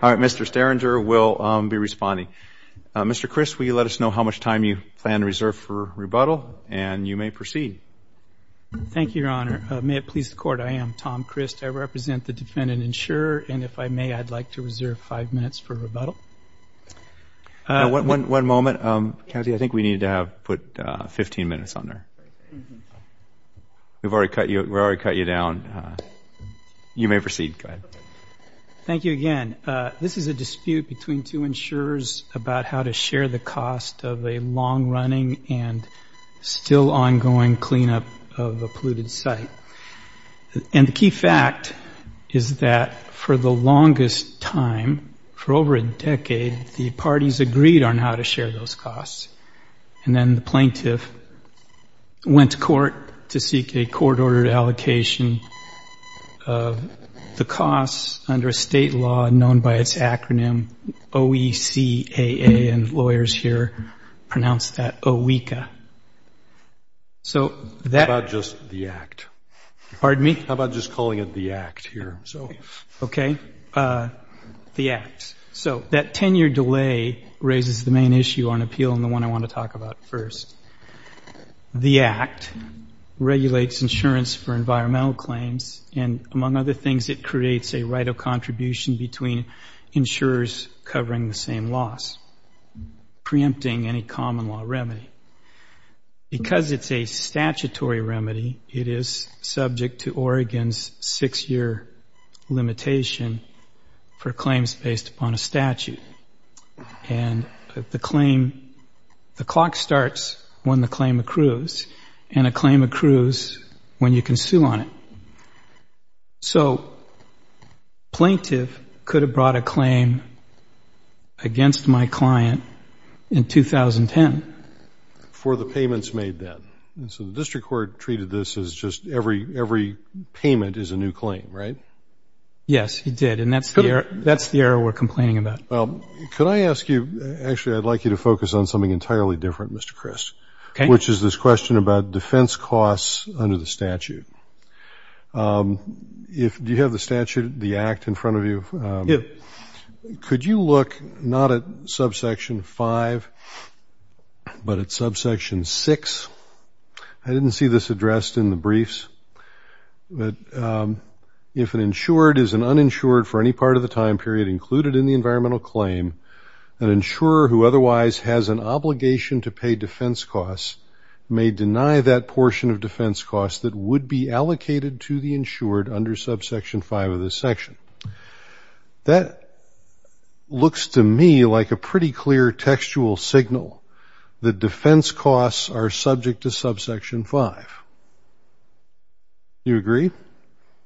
All right, Mr. Sterringer will be responding. Mr. Crist, will you let us know how much time you plan to reserve for rebuttal? And you may proceed. Thank you, Your Honor. May it please the Court, I am Tom Crist. I represent the defendant insurer, and if I may, I'd like to reserve five minutes for rebuttal. One moment. Cassie, I think we need to put 15 minutes on there. We've already cut you down. You may proceed. Thank you again. This is a dispute between two insurers about how to share the cost of a long-running and still ongoing cleanup of a polluted site. And the key fact is that for the longest time, for over a decade, the parties agreed on how to share those costs. And then the plaintiff went to court to seek a court-ordered allocation of the costs under a state law known by its acronym OECAA, and lawyers here pronounce that O-E-C-A. How about just the act? Pardon me? How about just calling it the act here? Okay, the act. So that 10-year delay raises the main issue on appeal and the one I want to talk about first. The act regulates insurance for environmental claims, and among other things it creates a right of contribution between insurers covering the same loss, preempting any common law remedy. Because it's a statutory remedy, it is subject to Oregon's six-year limitation for claims based upon a statute. And the claim, the clock starts when the claim accrues, and a claim accrues when you can sue on it. So plaintiff could have brought a claim against my client in 2010. For the payments made then. So the district court treated this as just every payment is a new claim, right? Yes, it did, and that's the error we're complaining about. Could I ask you, actually I'd like you to focus on something entirely different, Mr. Christ, which is this question about defense costs under the statute. Do you have the statute, the act, in front of you? Yeah. Could you look not at subsection 5, but at subsection 6? I didn't see this addressed in the briefs. If an insured is an uninsured for any part of the time period included in the environmental claim, an insurer who otherwise has an obligation to pay defense costs may deny that portion of defense costs that would be allocated to the insured under subsection 5 of this section. That looks to me like a pretty clear textual signal that defense costs are subject to subsection 5. Do you agree?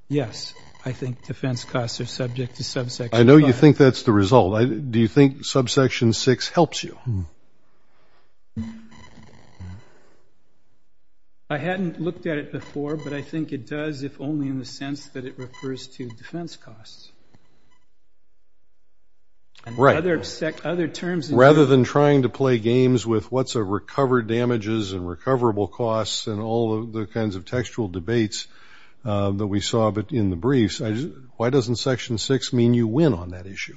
Yes, I think defense costs are subject to subsection 5. I know you think that's the result. Do you think subsection 6 helps you? Hmm. I hadn't looked at it before, but I think it does, if only in the sense that it refers to defense costs. Right. And other terms. Rather than trying to play games with what's a recovered damages and recoverable costs and all of the kinds of textual debates that we saw in the briefs, why doesn't section 6 mean you win on that issue?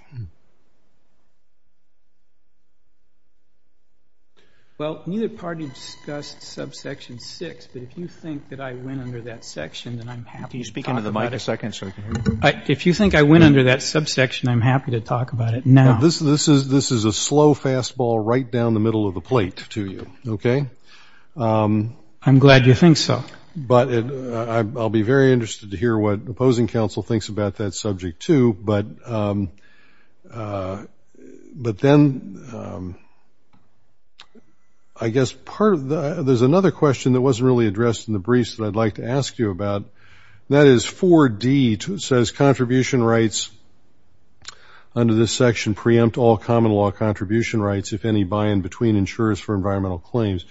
Well, neither party discussed subsection 6, but if you think that I win under that section, then I'm happy to talk about it. Can you speak into the mic a second so I can hear you? If you think I win under that subsection, I'm happy to talk about it now. This is a slow fastball right down the middle of the plate to you, okay? I'm glad you think so. But I'll be very interested to hear what opposing counsel thinks about that subject, too. But then I guess part of the ‑‑ there's another question that wasn't really addressed in the briefs that I'd like to ask you about, and that is 4D says contribution rights under this section preempt all common law contribution rights, if any, by and between insurers for environmental claims.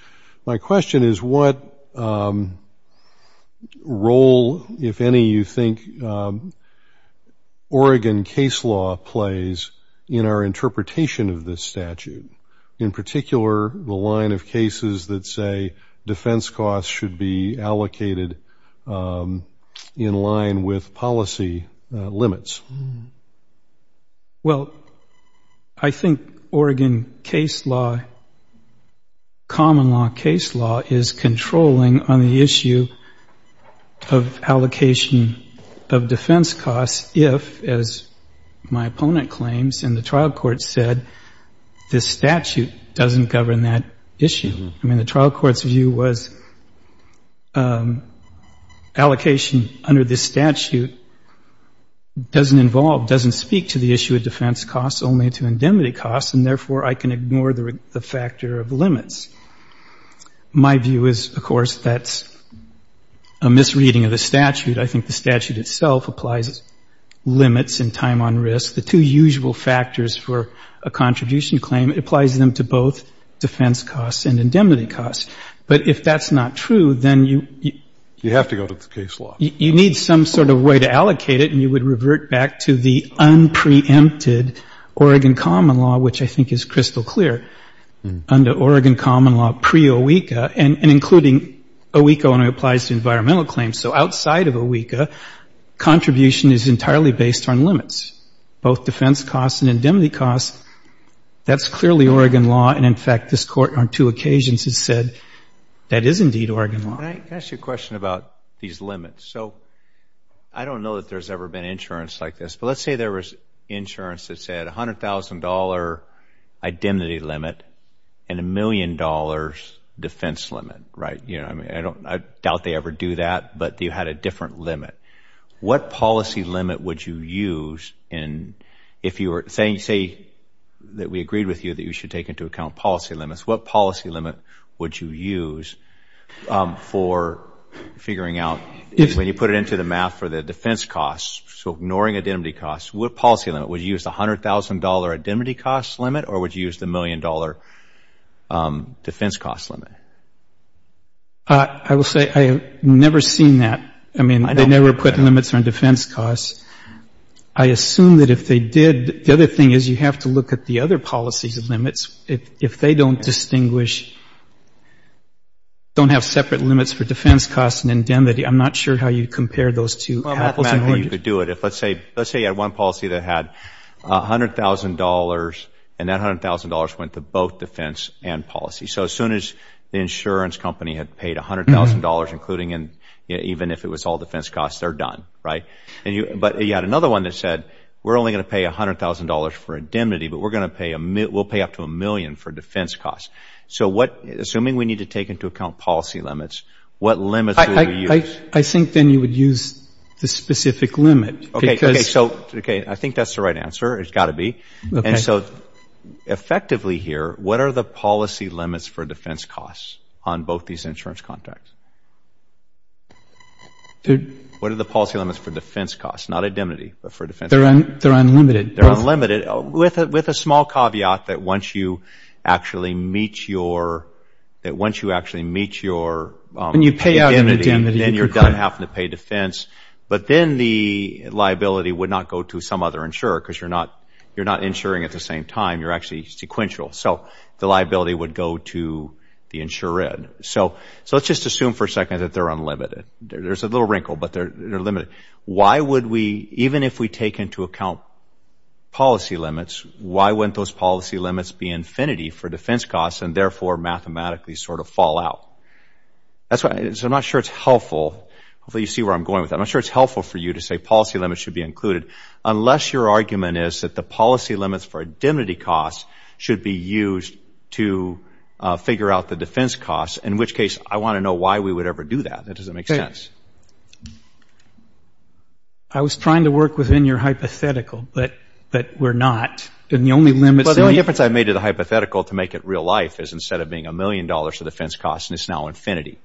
My question is what role, if any, you think Oregon case law plays in our interpretation of this statute, in particular the line of cases that say defense costs should be allocated in line with policy limits? Well, I think Oregon case law, common law case law, is controlling on the issue of allocation of defense costs if, as my opponent claims, and the trial court said, this statute doesn't govern that issue. I mean, the trial court's view was allocation under this statute doesn't involve, doesn't speak to the issue of defense costs only to indemnity costs, and therefore I can ignore the factor of limits. My view is, of course, that's a misreading of the statute. I think the statute itself applies limits and time on risk. The two usual factors for a contribution claim, it applies them to both defense costs and indemnity costs. But if that's not true, then you need some sort of way to allocate it, and you would revert back to the unpreempted Oregon common law, which I think is crystal clear under Oregon common law pre-OECA, and including OECA only applies to environmental claims. So outside of OECA, contribution is entirely based on limits, both defense costs and indemnity costs. That's clearly Oregon law, and, in fact, this Court on two occasions has said that is indeed Oregon law. Can I ask you a question about these limits? So I don't know that there's ever been insurance like this, but let's say there was insurance that said $100,000 indemnity limit and $1 million defense limit, right? I doubt they ever do that, but you had a different limit. What policy limit would you use if you were saying, say, that we agreed with you that you should take into account policy limits, what policy limit would you use for figuring out, when you put it into the math for the defense costs, so ignoring indemnity costs, what policy limit? Would you use the $100,000 indemnity costs limit, or would you use the $1 million defense costs limit? I will say I have never seen that. I mean, they never put limits on defense costs. I assume that if they did, the other thing is you have to look at the other policy limits. If they don't distinguish, don't have separate limits for defense costs and indemnity, I'm not sure how you compare those two. Let's say you had one policy that had $100,000, and that $100,000 went to both defense and policy. So as soon as the insurance company had paid $100,000, including even if it was all defense costs, they're done, right? But you had another one that said, we're only going to pay $100,000 for indemnity, but we'll pay up to $1 million for defense costs. So assuming we need to take into account policy limits, what limits would we use? I think then you would use the specific limit. So I think that's the right answer. It's got to be. And so effectively here, what are the policy limits for defense costs on both these insurance contracts? What are the policy limits for defense costs? Not indemnity, but for defense costs. They're unlimited. They're unlimited, with a small caveat that once you actually meet your indemnity, then you're done having to pay defense. But then the liability would not go to some other insurer because you're not insuring at the same time. You're actually sequential. So the liability would go to the insured. So let's just assume for a second that they're unlimited. There's a little wrinkle, but they're limited. Why would we, even if we take into account policy limits, why wouldn't those policy limits be infinity for defense costs and therefore mathematically sort of fall out? So I'm not sure it's helpful. Hopefully you see where I'm going with that. I'm not sure it's helpful for you to say policy limits should be included, unless your argument is that the policy limits for indemnity costs should be used to figure out the defense costs, in which case I want to know why we would ever do that. That doesn't make sense. I was trying to work within your hypothetical, but we're not. And the only limit is... Well, the only difference I've made to the hypothetical to make it real life is instead of being a million dollars for defense costs, it's now infinity.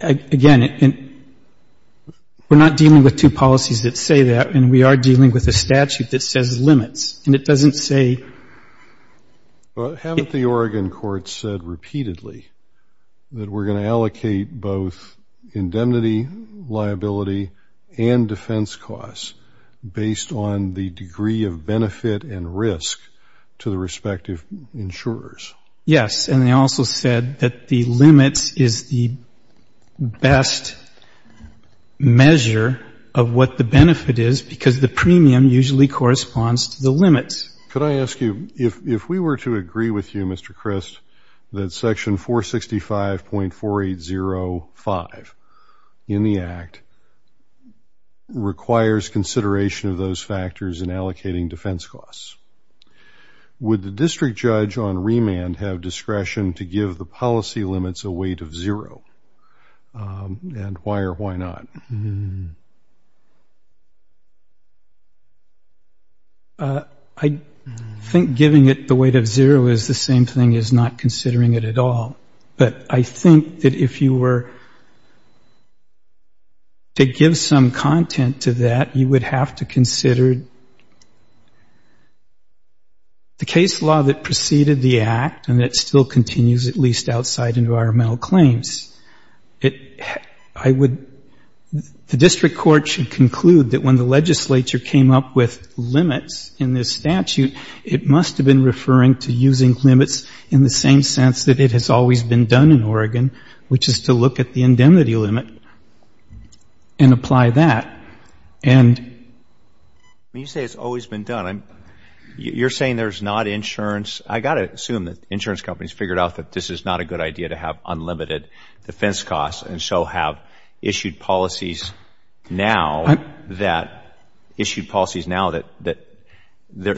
Again, we're not dealing with two policies that say that, and we are dealing with a statute that says limits, and it doesn't say... Well, haven't the Oregon courts said repeatedly that we're going to allocate both indemnity, liability, and defense costs based on the degree of benefit and risk to the respective insurers? Yes, and they also said that the limits is the best measure of what the benefit is because the premium usually corresponds to the limits. Could I ask you, if we were to agree with you, Mr. Christ, that Section 465.4805 in the Act requires consideration of those factors in allocating defense costs, would the district judge on remand have discretion to give the policy limits a weight of zero, and why or why not? I think giving it the weight of zero is the same thing as not considering it at all. But I think that if you were to give some content to that, you would have to consider the case law that preceded the Act and that still continues, at least outside environmental claims. The district court should conclude that when the legislature came up with limits in this statute, it must have been referring to using limits in the same sense that it has always been done in Oregon, which is to look at the indemnity limit and apply that. And... You say it's always been done. You're saying there's not insurance. I've got to assume that insurance companies figured out that this is not a good idea to have unlimited defense costs and so have issued policies now that, issued policies now that,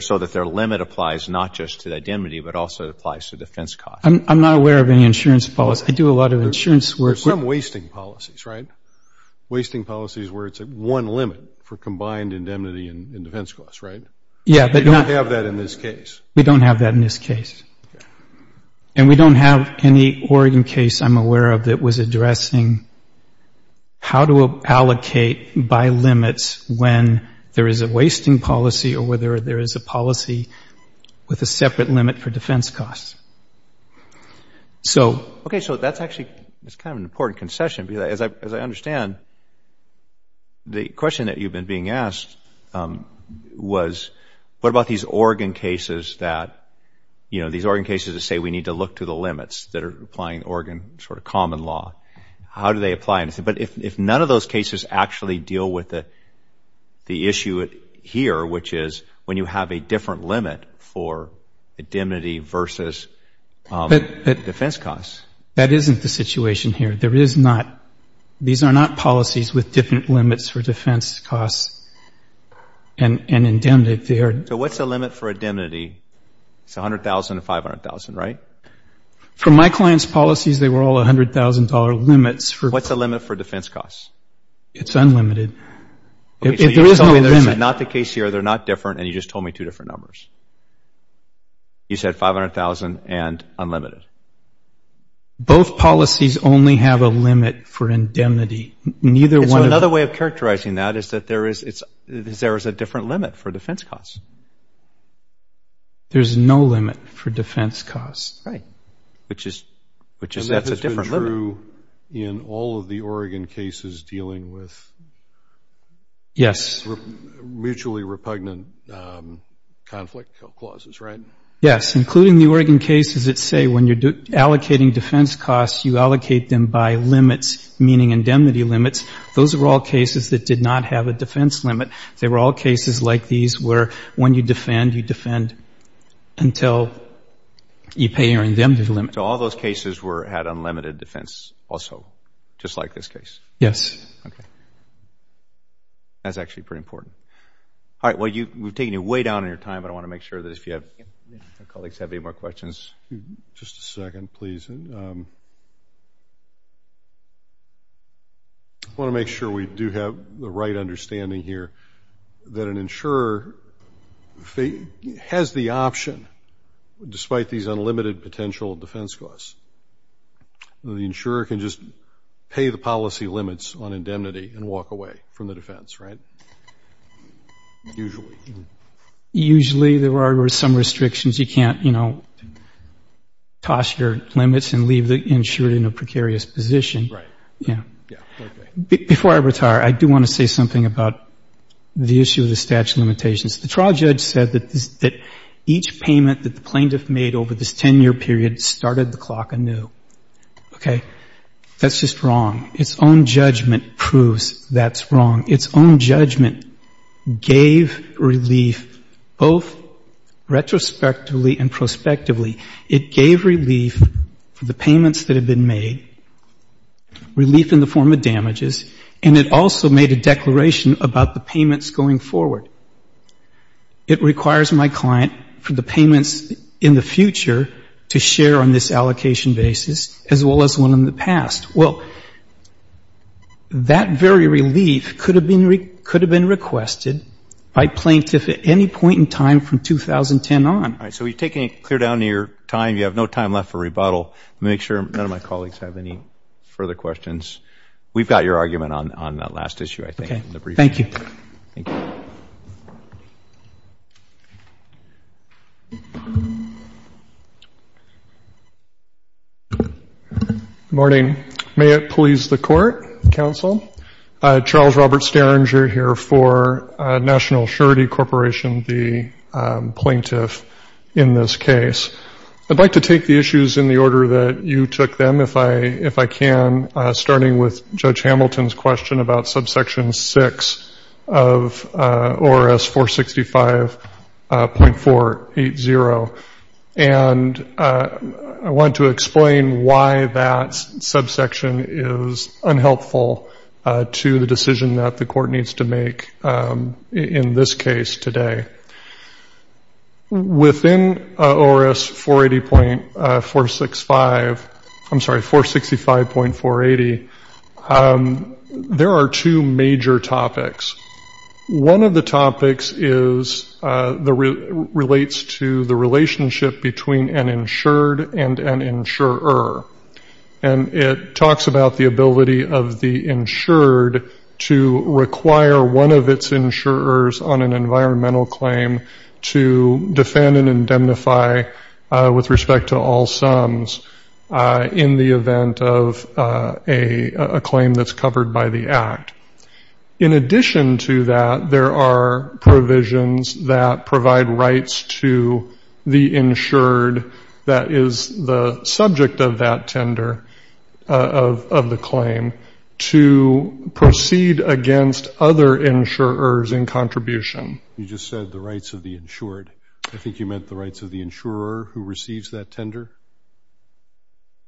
so that their limit applies not just to indemnity but also applies to defense costs. I'm not aware of any insurance policy. I do a lot of insurance work. There's some wasting policies, right? Wasting policies where it's one limit for combined indemnity and defense costs, right? Yeah, but... We don't have that in this case. We don't have that in this case. And we don't have any Oregon case I'm aware of that was addressing how to allocate by limits when there is a wasting policy or whether there is a policy with a separate limit for defense costs. So... Okay, so that's actually kind of an important concession because, as I understand, the question that you've been being asked was, what about these Oregon cases that, you know, these Oregon cases that say we need to look to the limits that are applying Oregon sort of common law? How do they apply? But if none of those cases actually deal with the issue here, which is when you have a different limit for indemnity versus defense costs. That isn't the situation here. These are not policies with different limits for defense costs and indemnity. So what's the limit for indemnity? It's $100,000 and $500,000, right? For my client's policies, they were all $100,000 limits. What's the limit for defense costs? It's unlimited. Okay, so you're telling me this is not the case here, they're not different, and you just told me two different numbers. You said $500,000 and unlimited. Both policies only have a limit for indemnity. Another way of characterizing that is that there is a different limit for defense costs. There's no limit for defense costs. Right, which is a different limit. And that has been true in all of the Oregon cases dealing with mutually repugnant conflict clauses, right? Yes, including the Oregon cases that say when you're allocating defense costs, you allocate them by limits, meaning indemnity limits. Those are all cases that did not have a defense limit. They were all cases like these where when you defend, you defend until you pay your indemnity limit. So all those cases had unlimited defense also, just like this case? Yes. Okay. That's actually pretty important. All right, well, we've taken you way down on your time, but I want to make sure that if our colleagues have any more questions. Just a second, please. I want to make sure we do have the right understanding here that an insurer has the option, despite these unlimited potential defense costs, the insurer can just pay the policy limits on indemnity and walk away from the defense, right? Usually. Usually there are some restrictions. You can't, you know, toss your limits and leave the insurer in a precarious position. Right. Yeah. Before I retire, I do want to say something about the issue of the statute of limitations. The trial judge said that each payment that the plaintiff made over this 10-year period started the clock anew. Okay. That's just wrong. Its own judgment proves that's wrong. Its own judgment gave relief both retrospectively and prospectively. It gave relief for the payments that had been made, relief in the form of damages, and it also made a declaration about the payments going forward. It requires my client for the payments in the future to share on this allocation basis, as well as one in the past. Well, that very relief could have been requested by plaintiffs at any point in time from 2010 on. All right. So we've taken it clear down to your time. You have no time left for rebuttal. Let me make sure none of my colleagues have any further questions. We've got your argument on that last issue, I think, in the briefing. Thank you. Good morning. May it please the Court, Counsel. Charles Robert Sterringer here for National Surety Corporation, the plaintiff in this case. I'd like to take the issues in the order that you took them, if I can, starting with Judge Hamilton's question about subsection 6 of ORS 465.480. And I want to explain why that subsection is unhelpful to the decision that the court needs to make in this case today. Within ORS 465.480, there are two major topics. One of the topics relates to the relationship between an insured and an insurer. And it talks about the ability of the insured to require one of its insurers on an environmental claim to defend and indemnify with respect to all sums in the event of a claim that's covered by the Act. In addition to that, there are provisions that provide rights to the insured that is the subject of that tender, of the claim, to proceed against other insurers in contribution. You just said the rights of the insured. I think you meant the rights of the insurer who receives that tender?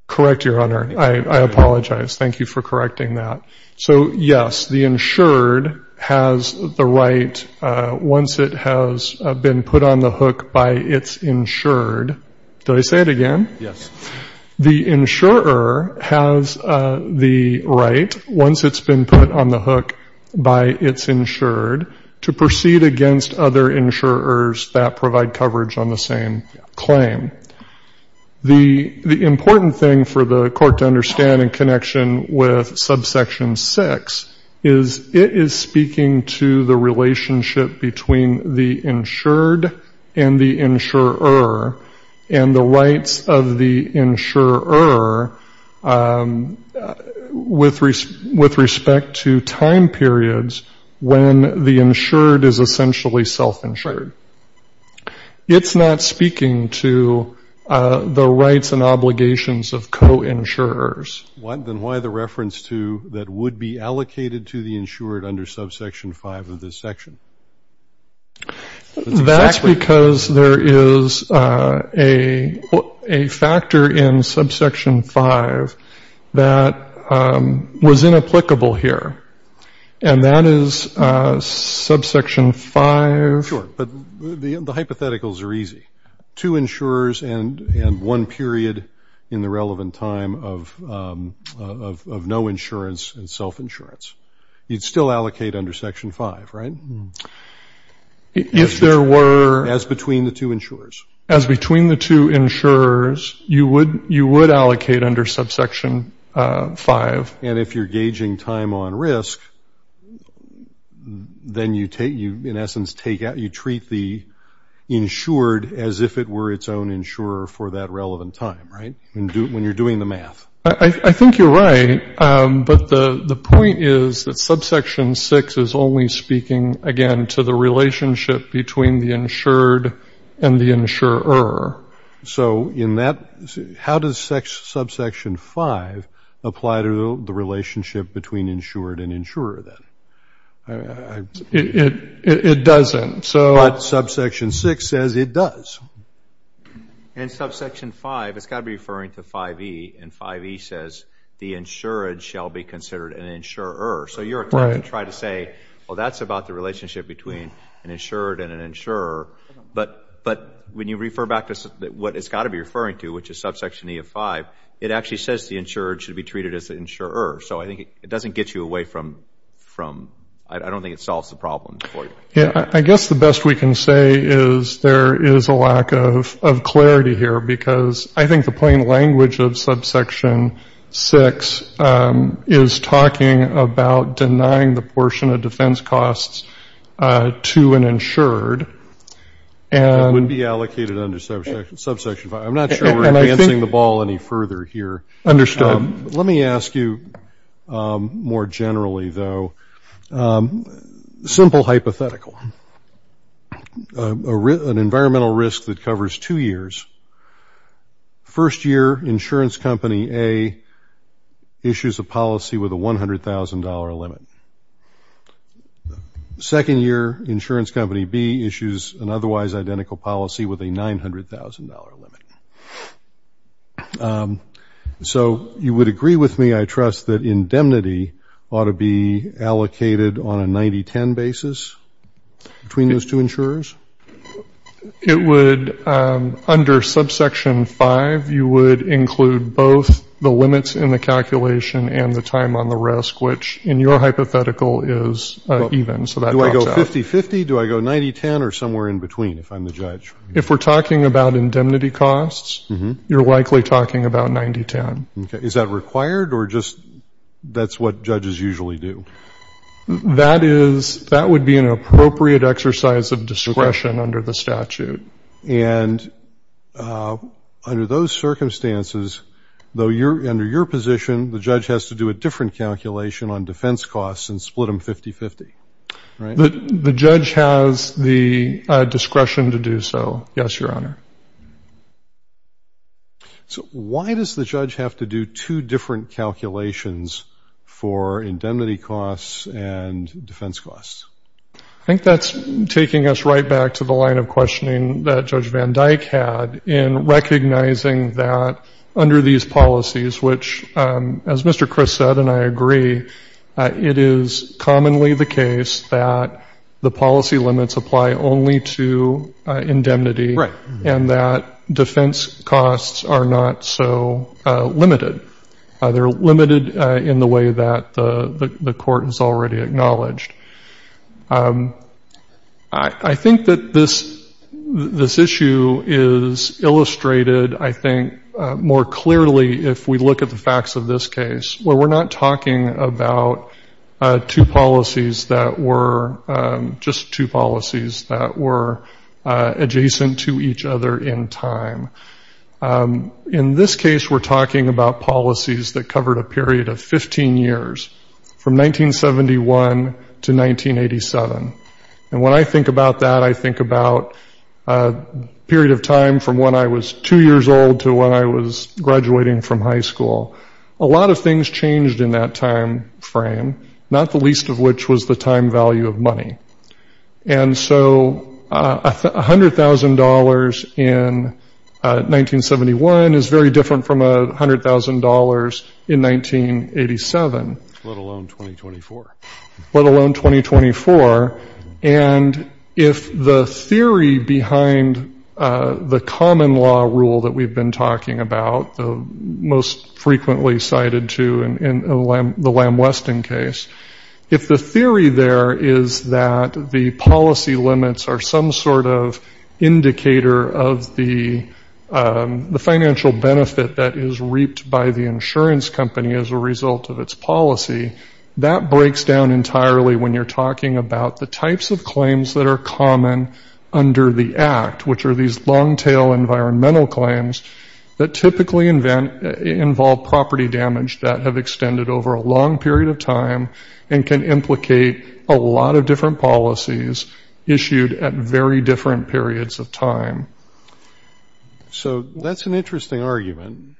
Correct, Your Honor. I apologize. Thank you for correcting that. So, yes, the insured has the right, once it has been put on the hook by its insured. Did I say it again? The insurer has the right, once it's been put on the hook by its insured, to proceed against other insurers that provide coverage on the same claim. The important thing for the Court to understand in connection with Subsection 6 is it is speaking to the relationship between the insured and the insurer and the rights of the insurer with respect to time periods when the insured is essentially self-insured. It's not speaking to the rights and obligations of co-insurers. Then why the reference to that would be allocated to the insured under Subsection 5 of this section? That's because there is a factor in Subsection 5 that was inapplicable here, and that is Subsection 5. Sure, but the hypotheticals are easy. Two insurers and one period in the relevant time of no insurance and self-insurance. You'd still allocate under Section 5, right? If there were... As between the two insurers. As between the two insurers, you would allocate under Subsection 5. And if you're gauging time on risk, then you, in essence, treat the insured as if it were its own insurer for that relevant time, right? When you're doing the math. I think you're right, but the point is that Subsection 6 is only speaking, again, to the relationship between the insured and the insurer. So in that, how does Subsection 5 apply to the relationship between insured and insurer then? It doesn't. But Subsection 6 says it does. In Subsection 5, it's got to be referring to 5E, and 5E says the insured shall be considered an insurer. So you're trying to say, well, that's about the relationship between an insured and an insurer. But when you refer back to what it's got to be referring to, which is Subsection E of 5, it actually says the insured should be treated as the insurer. So I think it doesn't get you away from... I don't think it solves the problem for you. I guess the best we can say is there is a lack of clarity here because I think the plain language of Subsection 6 is talking about denying the portion of defense costs to an insured. That would be allocated under Subsection 5. I'm not sure we're advancing the ball any further here. Understood. Let me ask you more generally, though. Simple hypothetical. An environmental risk that covers two years. First year, insurance company A issues a policy with a $100,000 limit. Second year, insurance company B issues an otherwise identical policy with a $900,000 limit. So you would agree with me, I trust, that indemnity ought to be allocated on a 90-10 basis between those two insurers? It would, under Subsection 5, you would include both the limits in the calculation and the time on the risk, which in your hypothetical is even. Do I go 50-50, do I go 90-10, or somewhere in between if I'm the judge? If we're talking about indemnity costs, you're likely talking about 90-10. Okay. Is that required or just that's what judges usually do? That would be an appropriate exercise of discretion under the statute. And under those circumstances, though, under your position, the judge has to do a different calculation on defense costs and split them 50-50, right? The judge has the discretion to do so, yes, Your Honor. So why does the judge have to do two different calculations for indemnity costs and defense costs? I think that's taking us right back to the line of questioning that Judge Van Dyke had in recognizing that under these policies, which, as Mr. Chris said, and I agree, it is commonly the case that the policy limits apply only to indemnity and that defense costs are not so limited. They're limited in the way that the court has already acknowledged. I think that this issue is illustrated, I think, more clearly if we look at the facts of this case, where we're not talking about two policies that were just two policies that were adjacent to each other in time. In this case, we're talking about policies that covered a period of 15 years, from 1971 to 1987. And when I think about that, I think about a period of time from when I was two years old to when I was graduating from high school. A lot of things changed in that time frame, not the least of which was the time value of money. And so $100,000 in 1971 is very different from $100,000 in 1987. Let alone 2024. Let alone 2024. And if the theory behind the common law rule that we've been talking about, the most frequently cited to in the Lam Weston case, if the theory there is that the policy limits are some sort of indicator of the financial benefit that is reaped by the insurance company as a result of its policy, that breaks down entirely when you're talking about the types of claims that are common under the Act, which are these long-tail environmental claims that typically involve property damage that have extended over a long period of time and can implicate a lot of different policies issued at very different periods of time. So that's an interesting argument.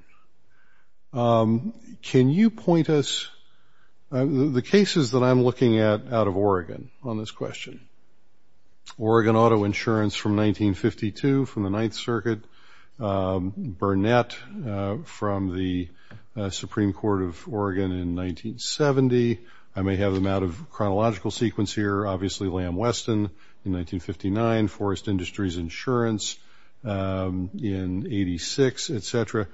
Can you point us, the cases that I'm looking at out of Oregon on this question, Oregon auto insurance from 1952 from the Ninth Circuit, Burnett from the Supreme Court of Oregon in 1970. I may have them out of chronological sequence here. Obviously, Lam Weston in 1959, Forest Industries Insurance in 86, et cetera.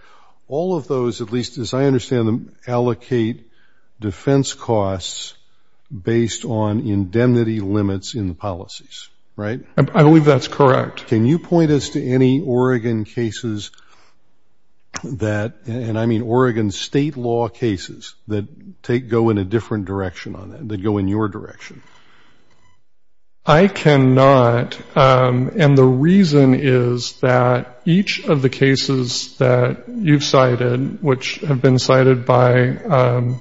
All of those, at least as I understand them, allocate defense costs based on indemnity limits in the policies, right? I believe that's correct. Can you point us to any Oregon cases that, and I mean Oregon state law cases, that go in a different direction on that, that go in your direction? I cannot, and the reason is that each of the cases that you've cited, which have been cited by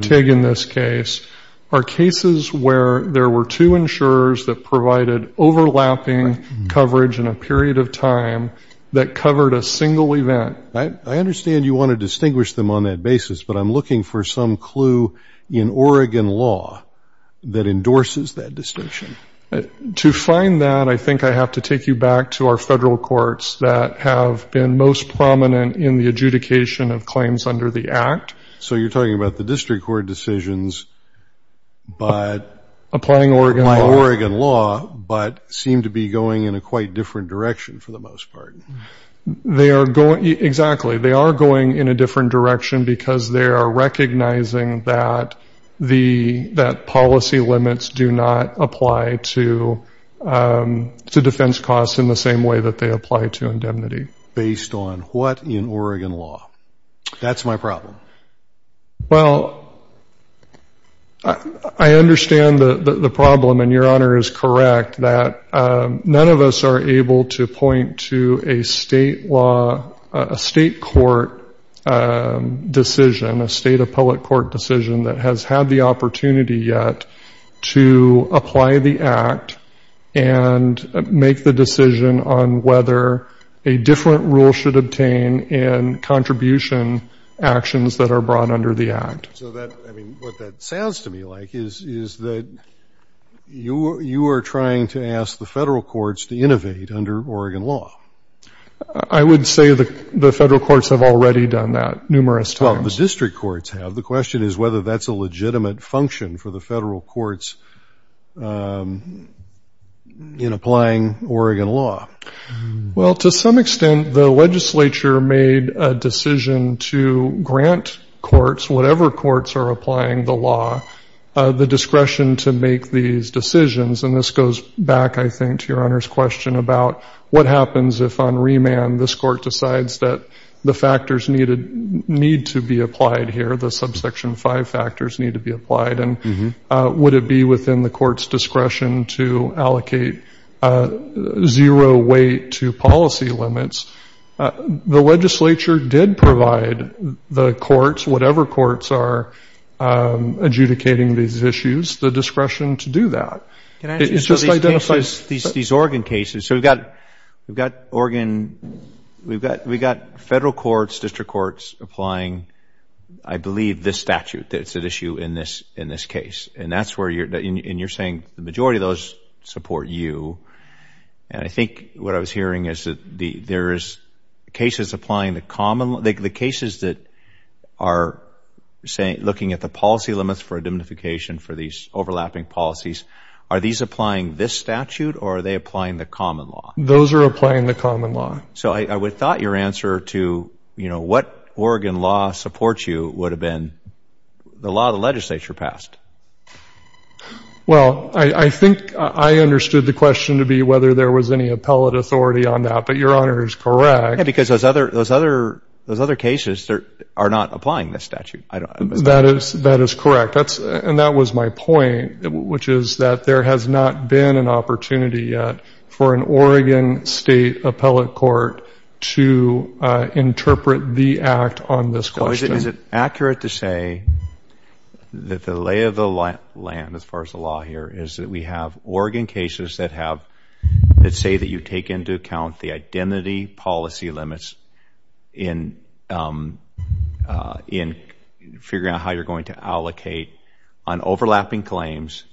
Tig in this case, are cases where there were two insurers that provided overlapping coverage in a period of time that covered a single event. I understand you want to distinguish them on that basis, but I'm looking for some clue in Oregon law that endorses that distinction. To find that, I think I have to take you back to our federal courts that have been most prominent in the adjudication of claims under the act. So you're talking about the district court decisions, but applying Oregon law, but seem to be going in a quite different direction for the most part. They are going, exactly, they are going in a different direction because they are recognizing that policy limits do not apply to defense costs in the same way that they apply to indemnity. Based on what in Oregon law? That's my problem. Well, I understand the problem, and your honor is correct, that none of us are able to point to a state law, a state court decision, a state appellate court decision that has had the opportunity yet to apply the act and make the decision on whether a different rule should obtain in contribution actions that are brought under the act. So what that sounds to me like is that you are trying to ask the federal courts to innovate under Oregon law. I would say the federal courts have already done that numerous times. Well, the district courts have. The question is whether that's a legitimate function for the federal courts in applying Oregon law. Well, to some extent, the legislature made a decision to grant courts, whatever courts are applying the law, the discretion to make these decisions, and this goes back, I think, to your honor's question about what happens if on remand this court decides that the factors need to be applied here, the subsection five factors need to be applied, and would it be within the court's discretion to allocate zero weight to policy limits? The legislature did provide the courts, whatever courts are adjudicating these issues, the discretion to do that. Can I just say these Oregon cases, so we've got Oregon, we've got federal courts, district courts applying, I believe, this statute that's at issue in this case, and you're saying the majority of those support you, and I think what I was hearing is that there is cases applying the common law. The cases that are looking at the policy limits for identification for these overlapping policies, are these applying this statute or are they applying the common law? Those are applying the common law. So I would thought your answer to what Oregon law supports you would have been the law the legislature passed. Well, I think I understood the question to be whether there was any appellate authority on that, but your honor is correct. Yeah, because those other cases are not applying this statute. That is correct, and that was my point, which is that there has not been an appellate court to interpret the act on this question. Is it accurate to say that the lay of the land, as far as the law here, is that we have Oregon cases that say that you take into account the identity policy limits in figuring out how you're going to allocate on overlapping claims,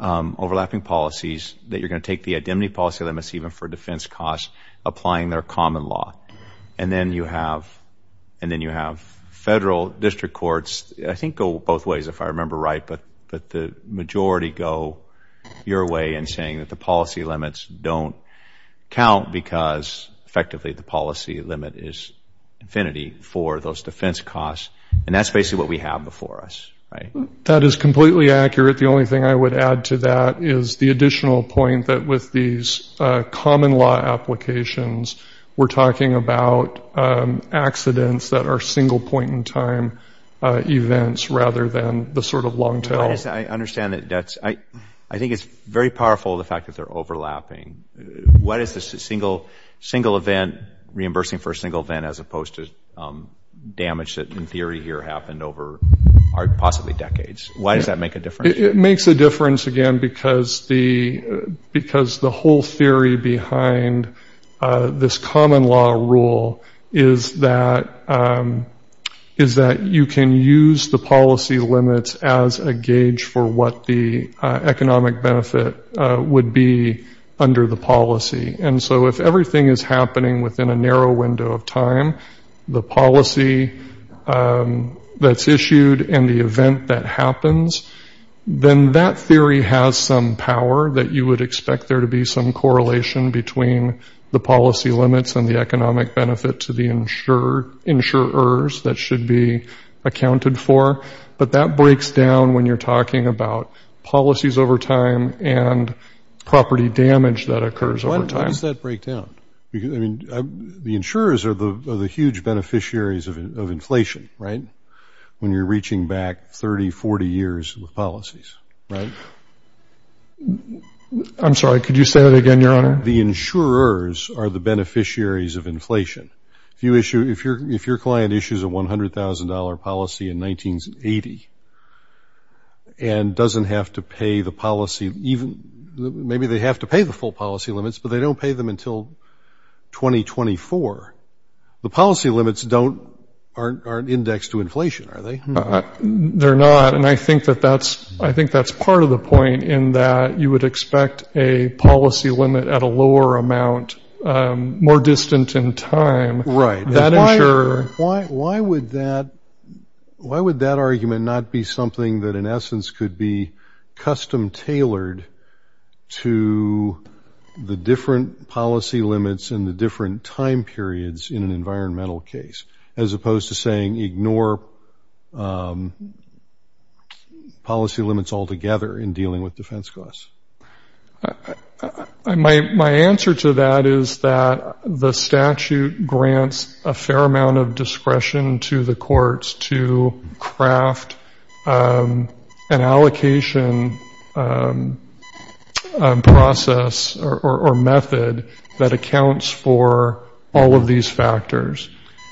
overlapping policies, that you're going to take the identity policy limits, even for defense costs, applying their common law, and then you have federal district courts, I think go both ways if I remember right, but the majority go your way in saying that the policy limits don't count because effectively the policy limit is infinity for those defense costs, and that's basically what we have before us, right? That is completely accurate. The only thing I would add to that is the additional point that with these common law applications, we're talking about accidents that are single point in time events rather than the sort of long tail. I understand that. I think it's very powerful, the fact that they're overlapping. What is the single event, reimbursing for a single event, as opposed to damage that in theory here happened over possibly decades? Why does that make a difference? It makes a difference, again, because the whole theory behind this common law rule is that you can use the policy limits as a gauge for what the economic benefit would be under the policy. And so if everything is happening within a narrow window of time, the policy that's issued and the event that happens, then that theory has some power that you would expect there to be some correlation between the policy limits and the economic benefit to the insurers that should be accounted for. But that breaks down when you're talking about policies over time and property damage that occurs over time. Why does that break down? The insurers are the huge beneficiaries of inflation, right, when you're reaching back 30, 40 years with policies, right? I'm sorry, could you say that again, Your Honor? The insurers are the beneficiaries of inflation. If your client issues a $100,000 policy in 1980 and doesn't have to pay the policy, maybe they have to pay the full policy limits, but they don't pay them until 2024. The policy limits aren't indexed to inflation, are they? They're not, and I think that's part of the point, in that you would expect a policy limit at a lower amount, more distant in time. Right. Why would that argument not be something that, in essence, could be custom-tailored to the different policy limits and the different time periods in an environmental case, as opposed to saying ignore policy limits altogether in dealing with defense costs? My answer to that is that the statute grants a fair amount of discretion to the courts to craft an allocation process or method that accounts for all of these factors,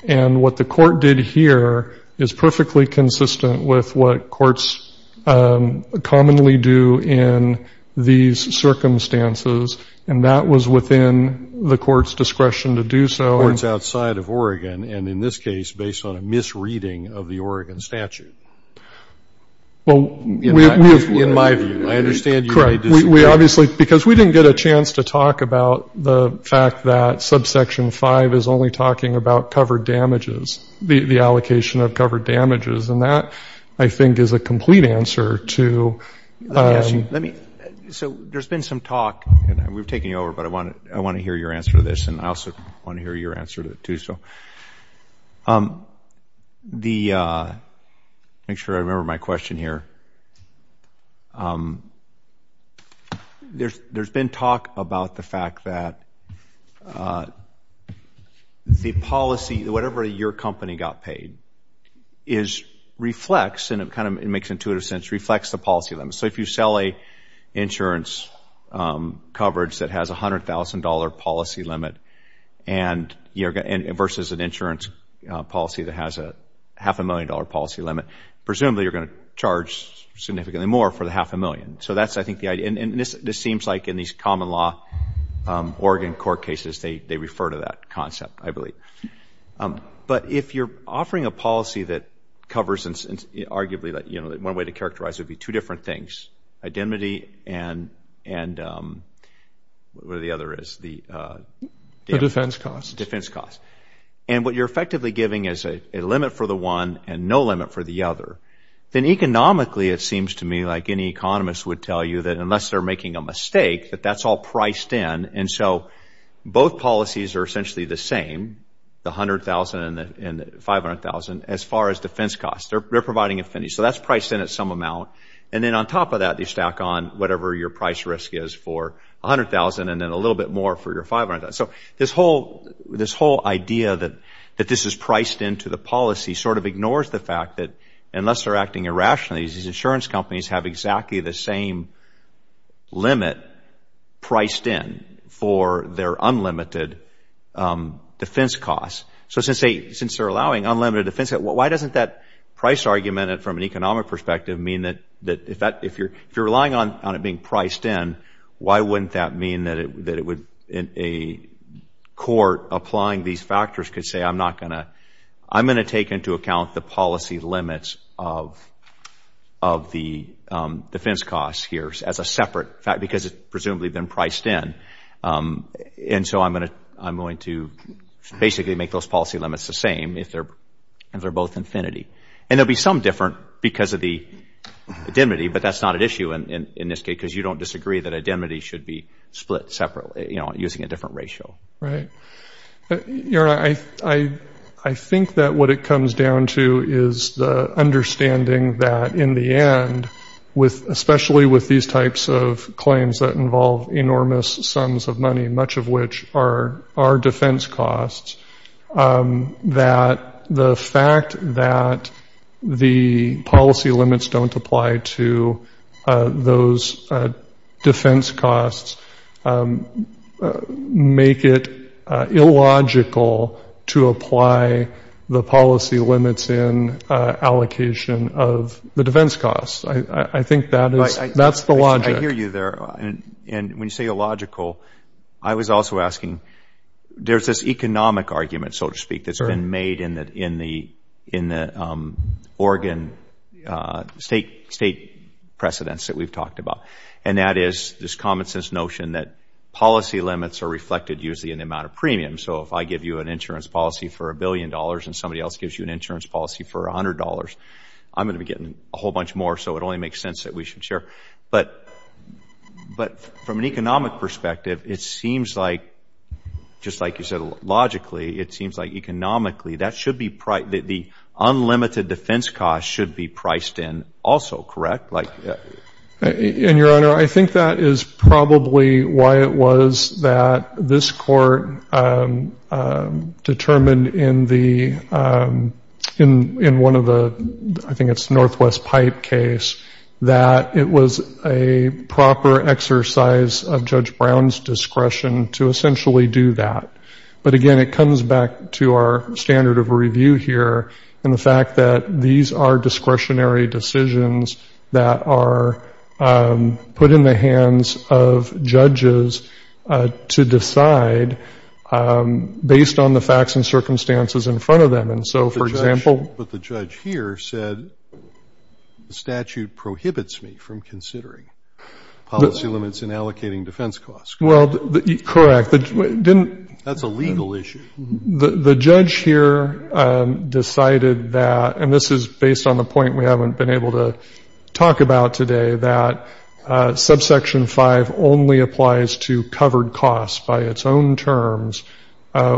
and what the court did here is perfectly consistent with what courts commonly do in these circumstances, and that was within the court's discretion to do so. And in this case, based on a misreading of the Oregon statute, in my view, I understand you may disagree. We obviously, because we didn't get a chance to talk about the fact that subsection 5 is only talking about covered damages, the allocation of covered damages, and that, I think, is a complete answer to. Let me ask you, so there's been some talk, and we've taken you over, but I want to hear your answer to this, and I also want to hear your answer to it, too. Make sure I remember my question here. There's been talk about the fact that the policy, whatever your company got paid, reflects, and it kind of makes intuitive sense, reflects the policy limits. So if you sell an insurance coverage that has a $100,000 policy limit versus an insurance policy that has a half-a-million-dollar policy limit, presumably you're going to charge significantly more for the half-a-million. So that's, I think, the idea, and this seems like in these common law Oregon court cases, they refer to that concept, I believe. But if you're offering a policy that covers, arguably, one way to characterize it would be two different things, identity and what are the other is? The defense costs. And what you're effectively giving is a limit for the one and no limit for the other. Then economically, it seems to me like any economist would tell you that unless they're making a mistake, that that's all priced in, and so both policies are essentially the same, the $100,000 and the $500,000, as far as defense costs. They're providing a finish. So that's priced in at some amount. And then on top of that, you stack on whatever your price risk is for $100,000 and then a little bit more for your $500,000. So this whole idea that this is priced into the policy sort of ignores the fact that unless they're acting irrationally, these insurance companies have exactly the same limit priced in for their unlimited defense costs. So since they're allowing unlimited defense, why doesn't that price argument from an economic perspective mean that if you're relying on it being priced in, why wouldn't that mean that a court applying these factors could say, I'm going to take into account the policy limits of the defense costs here as a separate fact because it's presumably been priced in. And so I'm going to basically make those policy limits the same if they're both infinity. And there will be some difference because of the identity, but that's not an issue in this case because you don't disagree that identity should be split separately, you know, using a different ratio. Right. I think that what it comes down to is the understanding that in the end, especially with these types of claims that involve enormous sums of money, much of which are defense costs, that the fact that the policy limits don't apply to those defense costs make it illogical to apply the policy limits in allocation of the defense costs. I think that's the logic. I hear you there. And when you say illogical, I was also asking, there's this economic argument, so to speak, that's been made in the Oregon state precedents that we've talked about, and that is this common sense notion that policy limits are reflected usually in the amount of premium. So if I give you an insurance policy for a billion dollars and somebody else gives you an insurance policy for $100, I'm going to be getting a whole bunch more, so it only makes sense that we should share. But from an economic perspective, it seems like, just like you said, logically, it seems like economically, the unlimited defense costs should be priced in also, correct? And, Your Honor, I think that is probably why it was that this court determined in one of the, I think it's Northwest Pipe case, that it was a proper exercise of Judge Brown's discretion to essentially do that. But, again, it comes back to our standard of review here and the fact that these are discretionary decisions that are put in the hands of judges to decide based on the facts and circumstances in front of them. And so, for example — But the judge here said the statute prohibits me from considering policy limits and allocating defense costs. Well, correct. That's a legal issue. The judge here decided that, and this is based on the point we haven't been able to talk about today, that Subsection 5 only applies to covered costs by its own terms,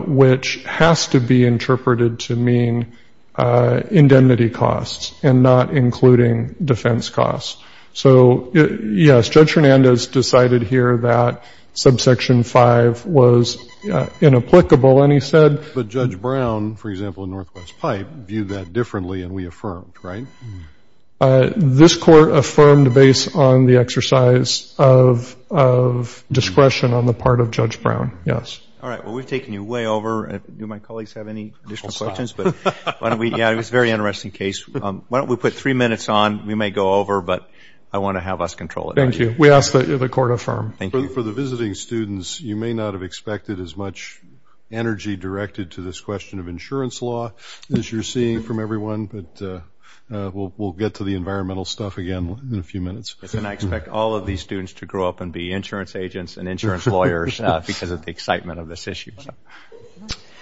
which has to be interpreted to mean indemnity costs and not including defense costs. So, yes, Judge Hernandez decided here that Subsection 5 was inapplicable, and he said — But Judge Brown, for example, in Northwest Pipe, viewed that differently and reaffirmed, right? This Court affirmed based on the exercise of discretion on the part of Judge Brown, yes. All right. Well, we've taken you way over. Do my colleagues have any additional questions? Yeah, it was a very interesting case. Why don't we put three minutes on? We may go over, but I want to have us control it. Thank you. We ask that the Court affirm. Thank you. For the visiting students, you may not have expected as much energy directed to this question of insurance law as you're seeing from everyone, but we'll get to the environmental stuff again in a few minutes. And I expect all of these students to grow up and be insurance agents and insurance lawyers because of the excitement of this issue.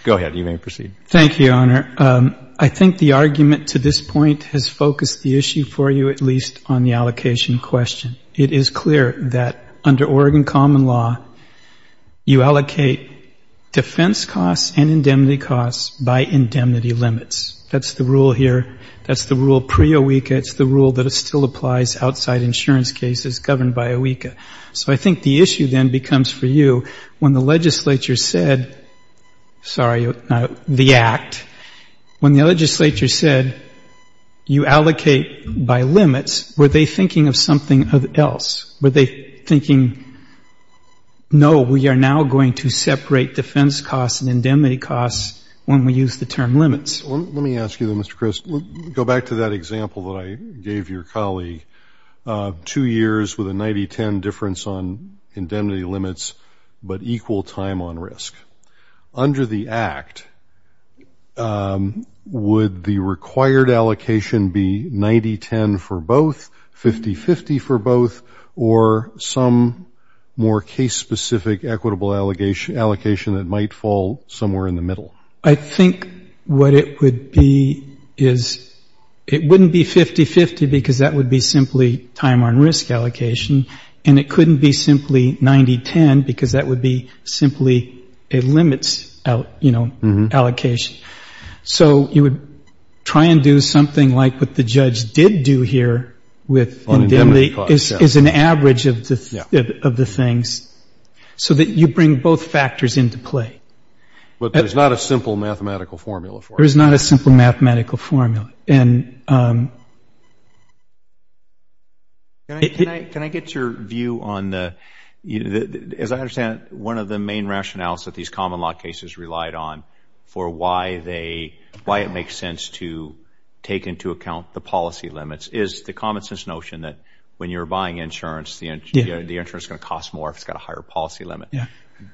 Go ahead. You may proceed. Thank you, Your Honor. I think the argument to this point has focused the issue for you, at least, on the allocation question. It is clear that under Oregon common law, you allocate defense costs and indemnity costs by indemnity limits. That's the rule here. That's the rule pre-OWECA. It's the rule that still applies outside insurance cases governed by OWECA. So I think the issue then becomes for you, when the legislature said the act, when the legislature said you allocate by limits, were they thinking of something else? Were they thinking, no, we are now going to separate defense costs and indemnity costs when we use the term limits? Let me ask you, then, Mr. Crist. Go back to that example that I gave your colleague, two years with a 90-10 difference on indemnity limits but equal time on risk. Under the act, would the required allocation be 90-10 for both, 50-50 for both, or some more case-specific equitable allocation that might fall somewhere in the middle? I think what it would be is it wouldn't be 50-50 because that would be simply time on risk allocation, and it couldn't be simply 90-10 because that would be simply a limits allocation. So you would try and do something like what the judge did do here with indemnity as an average of the things so that you bring both factors into play. But there's not a simple mathematical formula for it. There is not a simple mathematical formula. Can I get your view on, as I understand it, one of the main rationales that these common law cases relied on for why it makes sense to take into account the policy limits is the common sense notion that when you're buying insurance, the insurance is going to cost more if it's got a higher policy limit.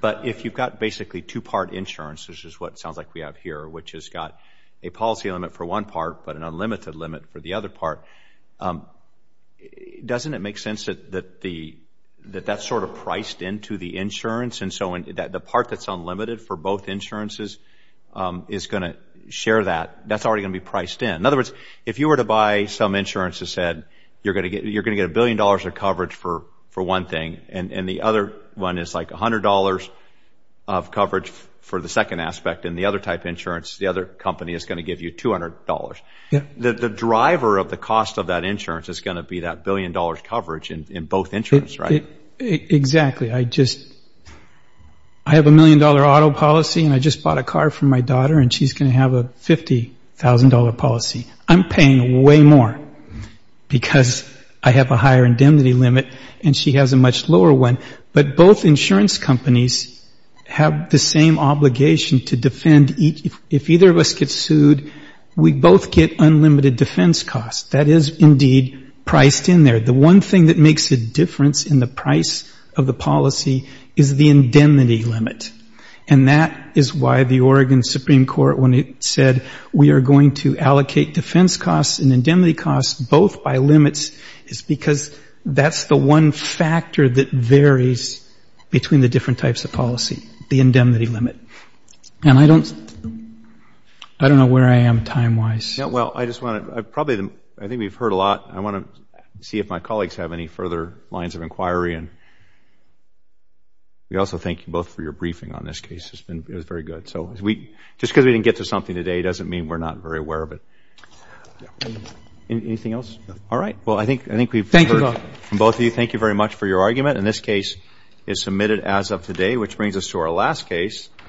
But if you've got basically two-part insurance, which is what sounds like we have here, which has got a policy limit for one part but an unlimited limit for the other part, doesn't it make sense that that's sort of priced into the insurance and so the part that's unlimited for both insurances is going to share that? That's already going to be priced in. In other words, if you were to buy some insurance that said you're going to get a billion dollars of coverage for one thing and the other one is like $100 of coverage for the second aspect and the other type of insurance, the other company is going to give you $200, the driver of the cost of that insurance is going to be that billion dollars coverage in both insurance, right? Exactly. I have a million-dollar auto policy and I just bought a car for my daughter and she's going to have a $50,000 policy. I'm paying way more because I have a higher indemnity limit and she has a much lower one. But both insurance companies have the same obligation to defend. If either of us gets sued, we both get unlimited defense costs. That is indeed priced in there. The one thing that makes a difference in the price of the policy is the indemnity limit and that is why the Oregon Supreme Court when it said we are going to allocate defense costs and indemnity costs both by limits is because that's the one factor that varies between the different types of policy, the indemnity limit. And I don't know where I am time-wise. Well, I just want to probably, I think we've heard a lot. I want to see if my colleagues have any further lines of inquiry and we also thank you both for your briefing on this case. It was very good. Just because we didn't get to something today doesn't mean we're not very aware of it. Anything else? All right. Well, I think we've heard from both of you. Thank you very much for your argument. And this case is submitted as of today, which brings us to our last case.